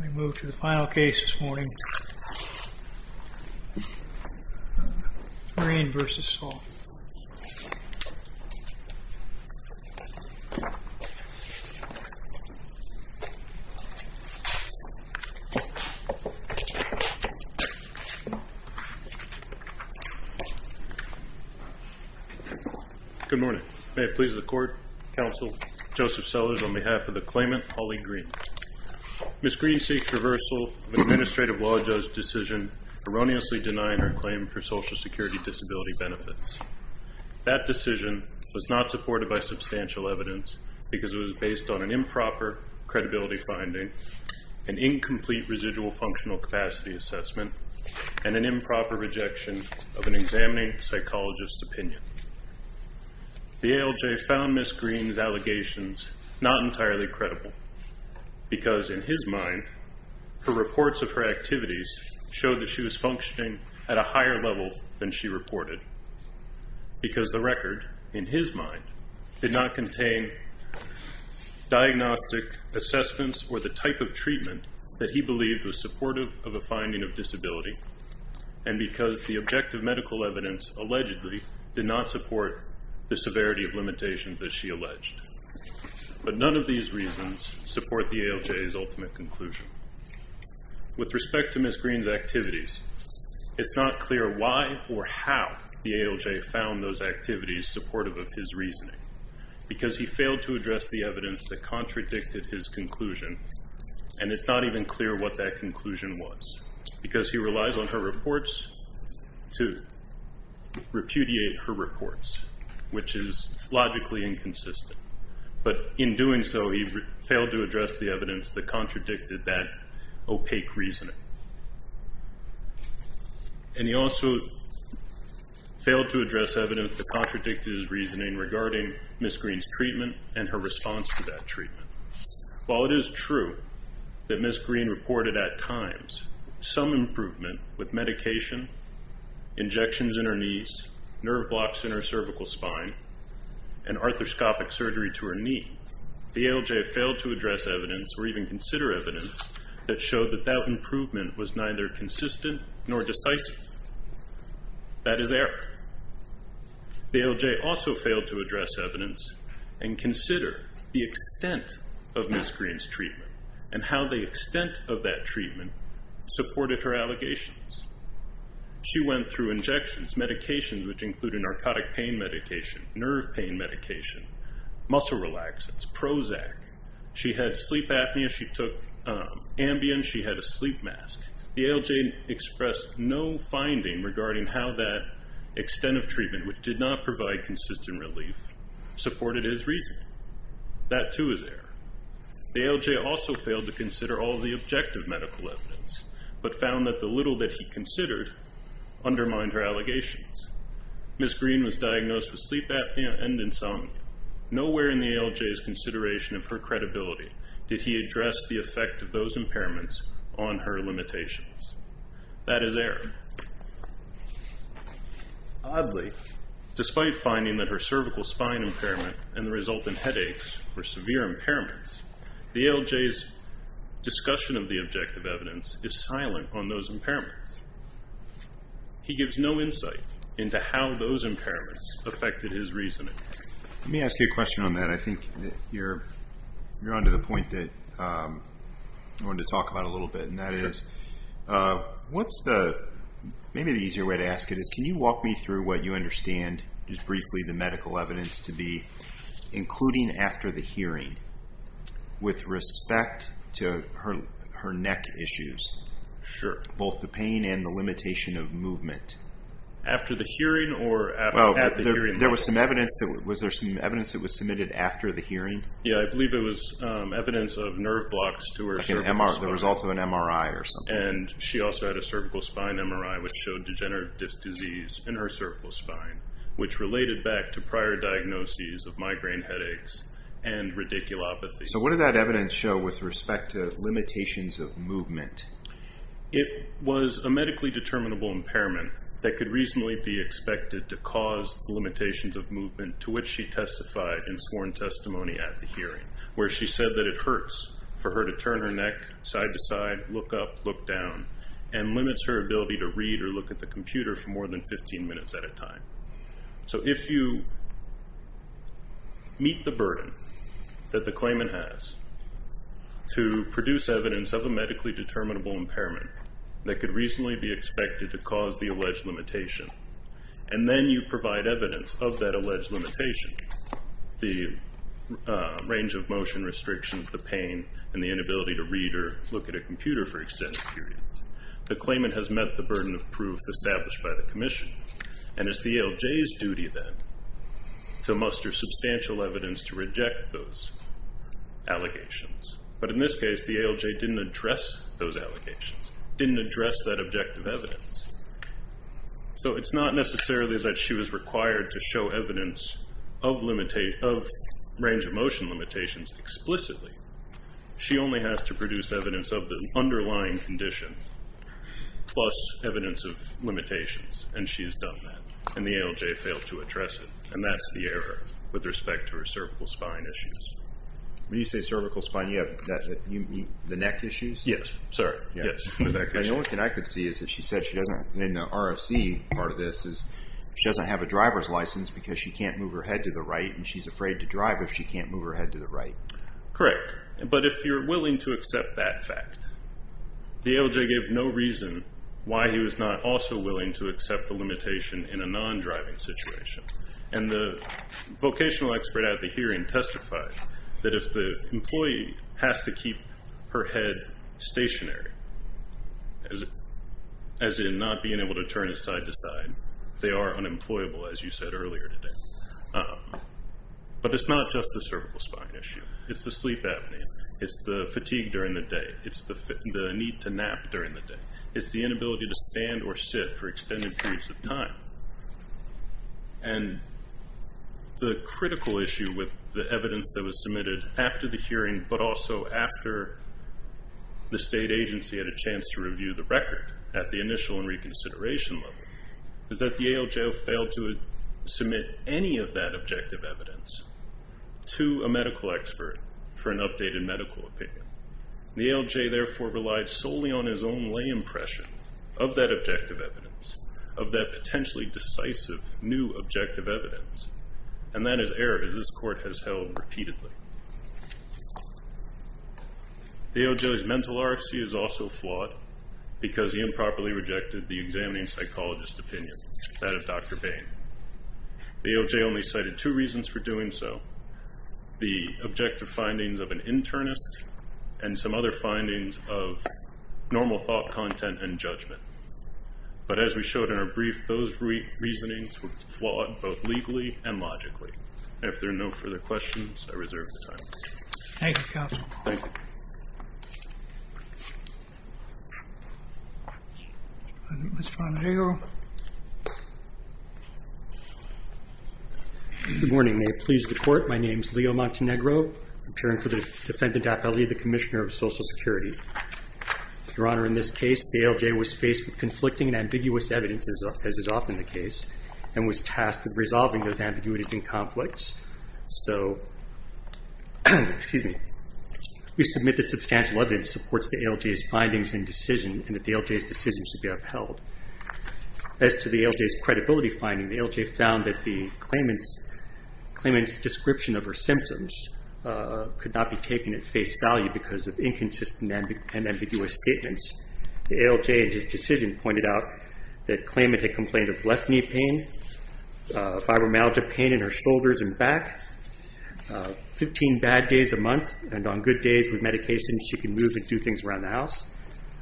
We move to the final case this morning. Green v. Saul. Good morning. May it please the court, counsel Joseph Sellers on behalf of the claimant, Holly Green. Ms. Green seeks reversal of an administrative law judge decision erroneously denying her claim for Social Security disability benefits. That decision was not supported by substantial evidence because it was based on an improper credibility finding, an incomplete residual functional capacity assessment, and an improper rejection of an examining psychologist's opinion. The ALJ found Ms. Green's allegations not entirely credible because, in his mind, her reports of her activities showed that she was functioning at a higher level than she reported because the record, in his mind, did not contain diagnostic assessments or the type of treatment that he believed was supportive of a finding of disability and because the objective medical evidence allegedly did not support the severity of limitations that she alleged. But none of these reasons support the ALJ's ultimate conclusion. With respect to Ms. Green's activities, it's not clear why or how the ALJ found those activities supportive of his reasoning because he failed to address the evidence that contradicted his conclusion and it's not even clear what that conclusion was because he relies on her reports to repudiate her reports, which is logically inconsistent. But in doing so, he failed to address the evidence that contradicted that opaque reasoning. And he also failed to address evidence that contradicted his reasoning regarding Ms. Green's treatment and her response to that treatment. While it is true that Ms. Green reported at times some improvement with medication, injections in her knees, nerve blocks in her cervical spine, and arthroscopic surgery to her knee, the ALJ failed to address evidence or even consider evidence that showed that that improvement was neither consistent nor decisive. That is error. The ALJ also failed to address evidence and consider the extent of Ms. Green's treatment and how the extent of that treatment supported her allegations. She went through injections, medications, which include a narcotic pain medication, nerve pain medication, muscle relaxants, Prozac. She had sleep apnea. She took Ambien. She had a sleep mask. The ALJ expressed no finding regarding how that extent of treatment, which did not provide consistent relief, supported his reasoning. That too is error. The ALJ also failed to consider all of the objective medical evidence, but found that the little that he considered undermined her allegations. Ms. Green was diagnosed with sleep apnea and insomnia. Nowhere in the ALJ's consideration of her credibility did he address the effect of those impairments on her limitations. That is error. Oddly, despite finding that her cervical spine impairment and the result in headaches were severe impairments, the ALJ's discussion of the objective evidence is silent on those impairments. He gives no insight into how those impairments affected his reasoning. Let me ask you a question on that. I think you're on to the point that I wanted to talk about a little bit, and that is, maybe the easier way to ask it is, can you walk me through what you understand, just briefly, the medical evidence to be, including after the hearing, with respect to her neck issues, both the pain and the limitation of movement? After the hearing or at the hearing? There was some evidence that was there some evidence that was submitted after the hearing? Yeah. I believe it was evidence of nerve blocks to her cervical spine. There was also an MRI or something. And she also had a cervical spine MRI, which showed degenerative disc disease in her cervical spine, which related back to prior diagnoses of migraine headaches and radiculopathy. So what did that evidence show with respect to limitations of movement? It was a medically determinable impairment that could reasonably be expected to cause limitations of movement to which she testified in sworn testimony at the hearing, where she said that it hurts for her to turn her neck side to side, look up, look down, and limits her ability to read or look at the computer for more than 15 minutes at a time. So if you meet the burden that the claimant has to produce evidence of a medically determinable impairment that could reasonably be expected to cause the claimant to provide evidence of that alleged limitation, the range of motion restrictions, the pain, and the inability to read or look at a computer for extended periods, the claimant has met the burden of proof established by the commission. And it's the ALJ's duty then to muster substantial evidence to reject those allegations. But in this case, the ALJ didn't address those allegations, didn't address that objective evidence. So it's not necessarily that she was required to show evidence of range of motion limitations explicitly. She only has to produce evidence of the underlying condition, plus evidence of limitations, and she has done that, and the ALJ failed to address it. And that's the error with respect to her cervical spine issues. When you say cervical spine, you mean the neck issues? Yes, sir. Yes. The only thing I could see is that she said she doesn't, in the RFC part of this, is she doesn't have a driver's license because she can't move her head to the right, and she's afraid to drive if she can't move her head to the right. Correct. But if you're willing to accept that fact, the ALJ gave no reason why he was not also willing to accept the limitation in a non-driving situation. And the vocational expert at the hearing testified that if the employee has to keep her head stationary, as in not being able to turn it side to side, they are unemployable, as you said earlier today. But it's not just the cervical spine issue. It's the sleep apnea. It's the fatigue during the day. It's the need to nap during the day. It's the inability to stand or sit for extended periods of time. And the critical issue with the evidence that was submitted after the hearing, but also after the state agency had a chance to review the record at the initial and reconsideration level, is that the ALJ failed to submit any of that objective evidence to a medical expert for an updated medical opinion. The ALJ, therefore, relied solely on his own lay impression of that objective evidence, of that potentially decisive new objective evidence. And that is error, as this Court has held repeatedly. The ALJ's mental RFC is also flawed because he improperly rejected the examining psychologist opinion, that of Dr. Bain. The ALJ only cited two reasons for doing so, the objective findings of an internist and some other findings of normal thought, content, and judgment. But as we showed in our brief, those reasonings were flawed both legally and logically. And if there are no further questions, I reserve the time. Thank you, counsel. Thank you. Mr. Montenegro. Good morning. May it please the Court. My name is Leo Montenegro, appearing for the defendant, Appellee, the Commissioner of Social Security. Your Honor, in this case, the ALJ was faced with conflicting and ambiguous evidence, as is often the case, and was tasked with resolving those ambiguities and conflicts. So, excuse me, we submit that substantial evidence supports the ALJ's findings and decision, and that the ALJ's decision should be upheld. As to the ALJ's credibility finding, the ALJ found that the claimant's description of her symptoms could not be taken at face value because of inconsistent and ambiguous statements. The ALJ, in his decision, pointed out that the claimant had complained of left back, 15 bad days a month, and on good days, with medication, she could move and do things around the house.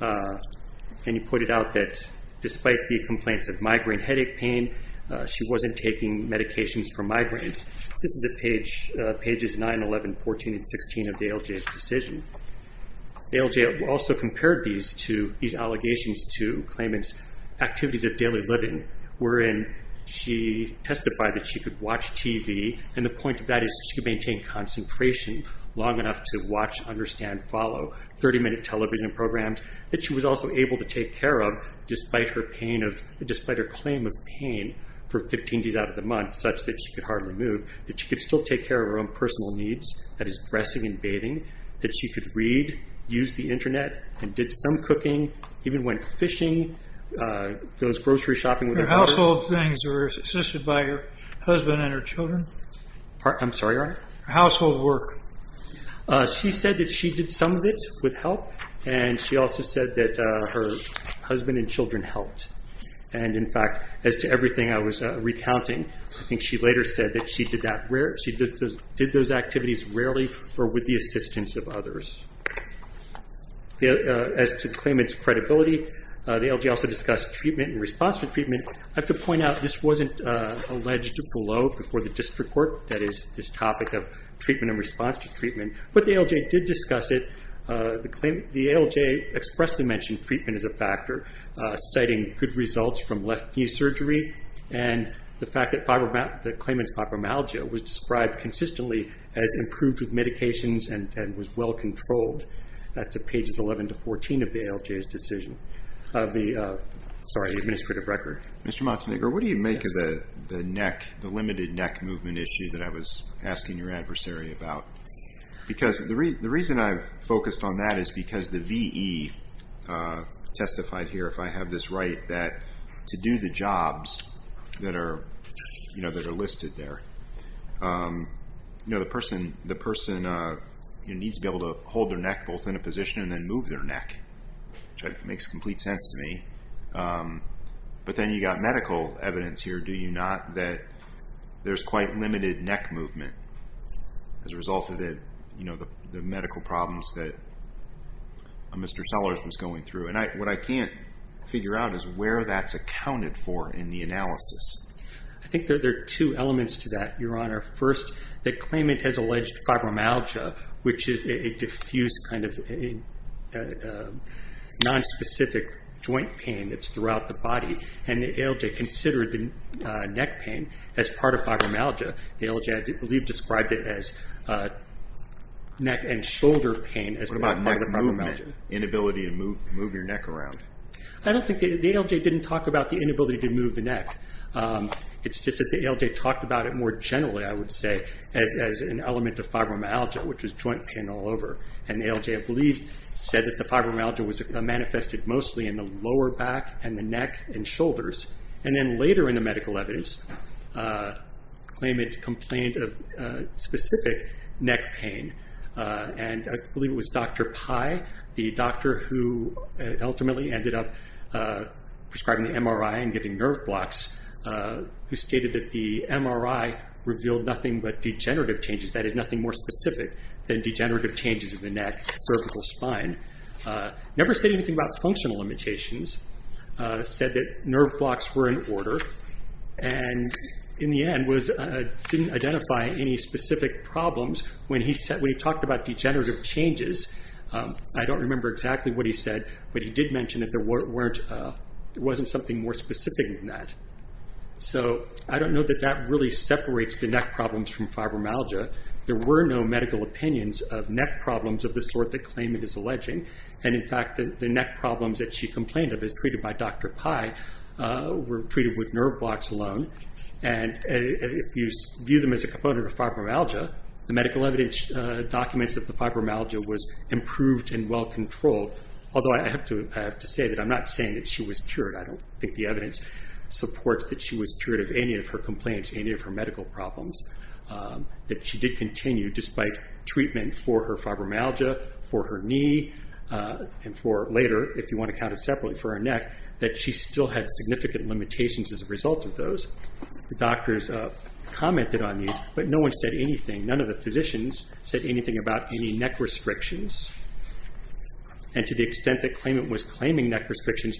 And he pointed out that despite the complaints of migraine headache pain, she wasn't taking medications for migraines. This is at pages 9, 11, 14, and 16 of the ALJ's decision. The ALJ also compared these allegations to claimant's activities of daily living, wherein she testified that she could watch TV, and the point of that is she could maintain concentration long enough to watch, understand, follow 30-minute television programs, that she was also able to take care of, despite her claim of pain for 15 days out of the month, such that she could hardly move, that she could still take care of her own personal needs, that is dressing and bathing, that she could read, use the household things that were assisted by her husband and her children. I'm sorry, Your Honor? Household work. She said that she did some of it with help, and she also said that her husband and children helped. And in fact, as to everything I was recounting, I think she later said that she did that, she did those activities rarely or with the assistance of others. As to the claimant's credibility, the ALJ also discussed treatment and response to treatment. I have to point out, this wasn't alleged before the district court, that is this topic of treatment and response to treatment, but the ALJ did discuss it. The ALJ expressly mentioned treatment as a factor, citing good results from left knee surgery and the fact that the claimant's fibromyalgia was described consistently as improved with medications and was well controlled. That's at pages 11 to 14 of the ALJ's decision, sorry, administrative record. Mr. Montenegro, what do you make of the neck, the limited neck movement issue that I was asking your adversary about? Because the reason I've focused on that is because the V.E. testified here, if I have this right, that to do the jobs that are listed there, the person needs to be able to hold their neck both in a position and then move their neck, which makes complete sense to me. But then you've got medical evidence here, do you not, that there's quite limited neck movement as a result of the medical problems that Mr. Sellers was going through. And what I can't figure out is where that's accounted for in the analysis. I think there are two elements to that, your honor. First, the claimant has alleged fibromyalgia, which is a diffuse kind of nonspecific joint pain that's throughout the body, and the ALJ considered the neck pain as part of fibromyalgia. The ALJ, I believe, described it as neck and shoulder pain as part of fibromyalgia. What about neck movement, inability to move your neck around? I don't think the ALJ didn't talk about the inability to move the neck. It's just that the ALJ talked about it more generally, I would say, as an element of fibromyalgia, which is joint pain all over. And the ALJ, I believe, said that the fibromyalgia was manifested mostly in the lower back and the neck and shoulders. And then later in the medical evidence, the claimant complained of specific neck pain. And I believe it was Dr. Pai, the doctor who ultimately ended up prescribing the MRI and giving nerve blocks, who stated that the MRI revealed nothing but degenerative changes, that is nothing more specific than degenerative changes in the neck, cervical spine. Never said anything about functional limitations, said that nerve blocks were in order, and in the end didn't identify any specific problems. When he talked about degenerative changes, I don't remember exactly what he said, but he did mention that there wasn't something more specific than that. So I don't know that that really separates the neck problems from fibromyalgia. There were no medical opinions of neck problems of the sort the claimant is alleging. And in fact, the neck problems that she complained of, as treated by Dr. Pai, were treated with nerve blocks alone. And if you view them as a component of fibromyalgia, the medical evidence documents that the fibromyalgia was improved and well controlled, although I have to say that I'm not saying that she was cured. I don't think the evidence supports that she was cured of any of her complaints, any of her medical problems, that she did continue, despite treatment for her fibromyalgia, for her knee, and for later, if you want to count it separately, for her neck, that she still had significant limitations as a result of those. The doctors commented on these, but no one said anything, none of the physicians said anything about any neck restrictions, and to the extent that the claimant was claiming neck restrictions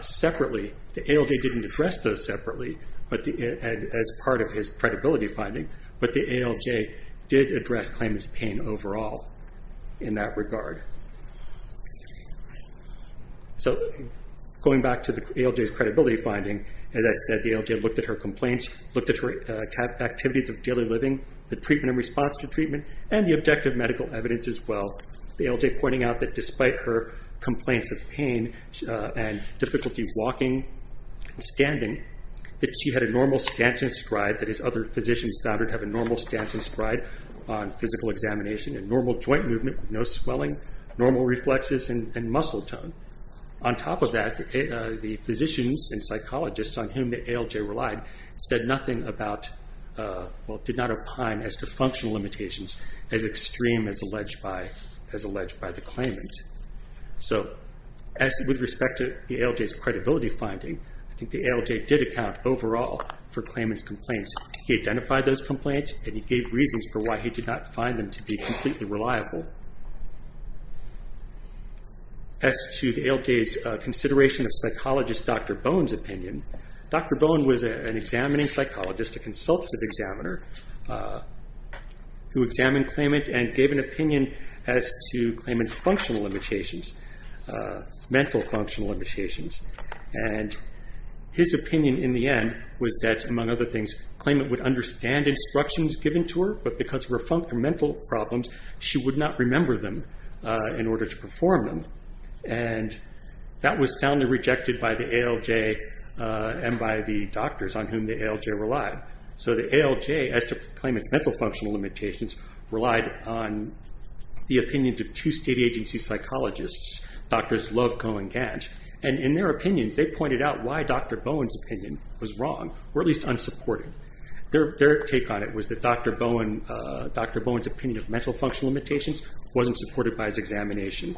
separately, the ALJ didn't address those separately as part of his credibility finding, but the ALJ did address claimant's pain overall in that regard. So going back to the ALJ's credibility finding, as I said, the ALJ looked at her complaints, looked at her activities of daily living, the treatment and response to treatment, and the objective medical evidence as well, the ALJ pointing out that despite her complaints of pain and difficulty walking and standing, that she had a normal stance and stride, that his other physicians found her to have a normal stance and stride on physical examination, a normal joint movement, no swelling, normal reflexes, and muscle tone. On top of that, the physicians and psychologists on whom the ALJ relied said nothing about, well, did not opine as to functional limitations as extreme as alleged by the claimant. So as with respect to the ALJ's credibility finding, I think the ALJ did account overall for claimant's complaints, he identified those complaints and he gave reasons for why he did not find them to be completely reliable. As to the ALJ's consideration of psychologist Dr. Bone's opinion, Dr. Bone was an examining psychologist, a consultative examiner, who examined claimant and gave an opinion as to claimant's functional limitations, mental functional limitations. His opinion in the end was that, among other things, claimant would understand instructions given to her, but because of her mental problems, she would not remember them in order to perform them, and that was soundly rejected by the ALJ and by the doctors on whom the ALJ relied. So the ALJ, as to claimant's mental functional limitations, relied on the opinions of two state agency psychologists, Drs. Loveco and Gant, and in their opinions, they pointed out why Dr. Bone's opinion was wrong, or at least unsupported. Their take on it was that Dr. Bone's opinion of mental functional limitations wasn't supported by his examination.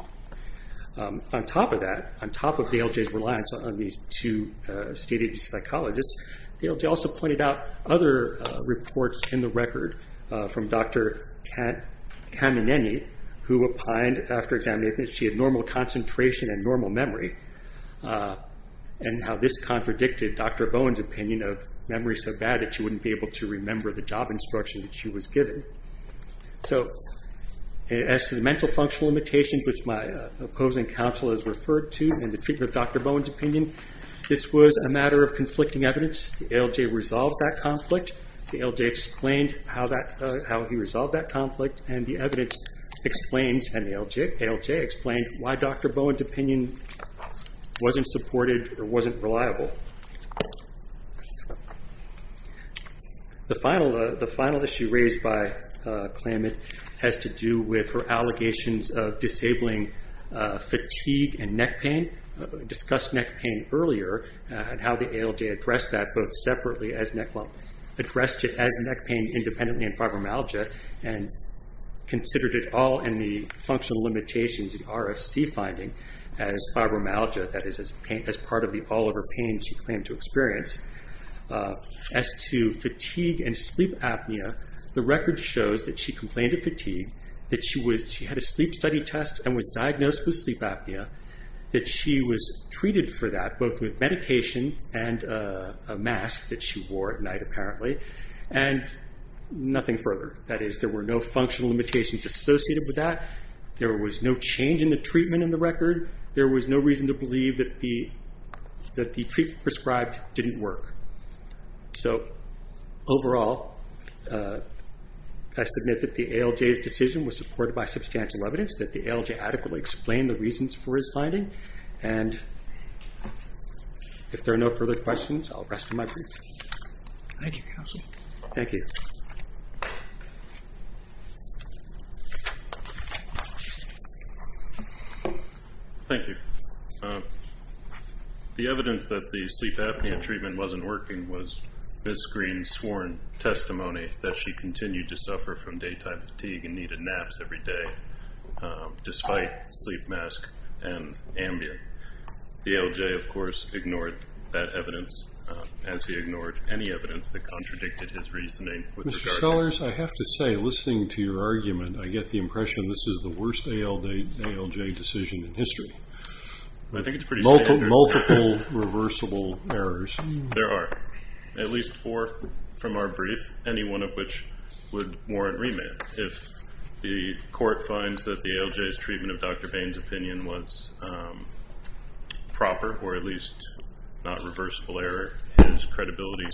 On top of that, on top of the ALJ's reliance on these two state agency psychologists, the ALJ also pointed out other reports in the record from Dr. Kamineni, who opined after examining that she had normal concentration and normal memory, and how this contradicted Dr. Bone's opinion of memory so bad that she wouldn't be able to remember the job instructions that she was given. So as to the mental functional limitations, which my opposing counsel has referred to in the treatment of Dr. Bone's opinion, this was a matter of conflicting evidence. The ALJ resolved that conflict. The ALJ explained how he resolved that conflict, and the evidence explains, and the ALJ explained why Dr. Bone's opinion wasn't supported or wasn't reliable. The final issue raised by Klamath has to do with her allegations of disabling fatigue and neck pain. We discussed neck pain earlier, and how the ALJ addressed that, both separately as neck lump, addressed it as neck pain independently in fibromyalgia, and considered it all in the functional limitations, the RFC finding, as fibromyalgia, that is as part of the all-over pain she claimed to experience. As to fatigue and sleep apnea, the record shows that she complained of fatigue, that she had a sleep study test and was diagnosed with sleep apnea, that she was treated for that both with medication and a mask that she wore at night apparently, and nothing further. That is, there were no functional limitations associated with that. There was no change in the treatment in the record. There was no reason to believe that the treatment prescribed didn't work. So overall, I submit that the ALJ's decision was supported by substantial evidence, that the ALJ adequately explained the reasons for his finding. And if there are no further questions, I'll rest in my brief. Thank you, counsel. Thank you. Thank you. The evidence that the sleep apnea treatment wasn't working was Ms. Green's sworn testimony that she continued to suffer from daytime fatigue and needed naps every day, despite sleep mask and Ambien. The ALJ, of course, ignored that evidence, as he ignored any evidence that contradicted his reasoning with regard to it. Mr. Sellers, I have to say, listening to your argument, I get the impression this is the worst ALJ decision in history, with multiple reversible errors. There are. At least four from our brief, any one of which would warrant remand. If the court finds that the ALJ's treatment of Dr. Bain's opinion was proper, or at least not reversible error, his credibility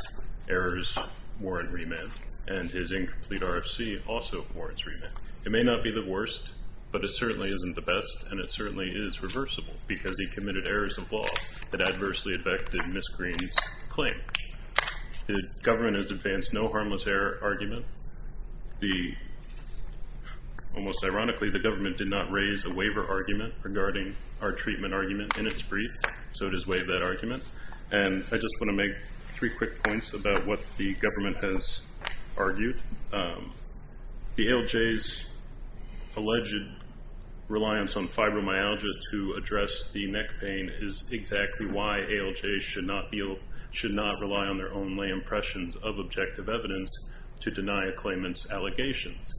errors warrant remand, and his incomplete RFC also warrants remand. It may not be the worst, but it certainly isn't the best, and it certainly is reversible because he committed errors of law that adversely affected Ms. Green's claim. The government has advanced no harmless error argument. Almost ironically, the government did not raise a waiver argument regarding our treatment argument in its brief, so it is waive that argument, and I just want to make three quick points about what the government has argued. The ALJ's alleged reliance on fibromyalgia to address the neck pain is exactly why ALJs should not rely on their own lay impressions of objective evidence to deny a claimant's allegations.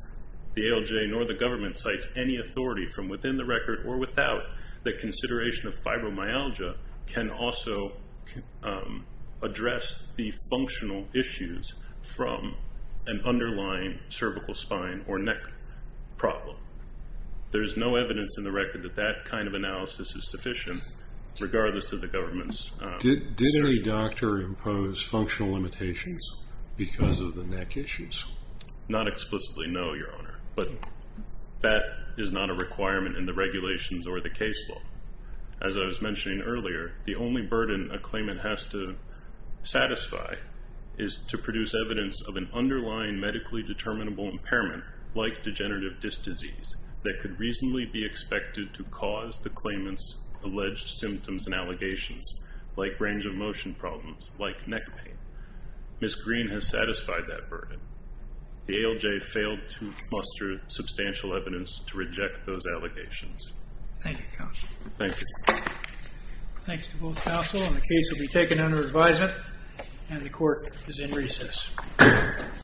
The ALJ nor the government cites any authority from within the record or without the consideration of fibromyalgia can also address the functional issues from an underlying cervical spine or neck problem. There is no evidence in the record that that kind of analysis is sufficient, regardless of the government's... Did any doctor impose functional limitations because of the neck issues? Not explicitly, no, Your Honor, but that is not a requirement in the regulations or the case law. As I was mentioning earlier, the only burden a claimant has to satisfy is to produce evidence of an underlying medically determinable impairment, like degenerative disc disease, that could reasonably be expected to cause the claimant's alleged symptoms and allegations, like range of motion problems, like neck pain. Ms. Green has satisfied that burden. The ALJ failed to muster substantial evidence to reject those allegations. Thank you, counsel. Thank you. Thanks to both counsel, and the case will be taken under advisement, and the court is in recess.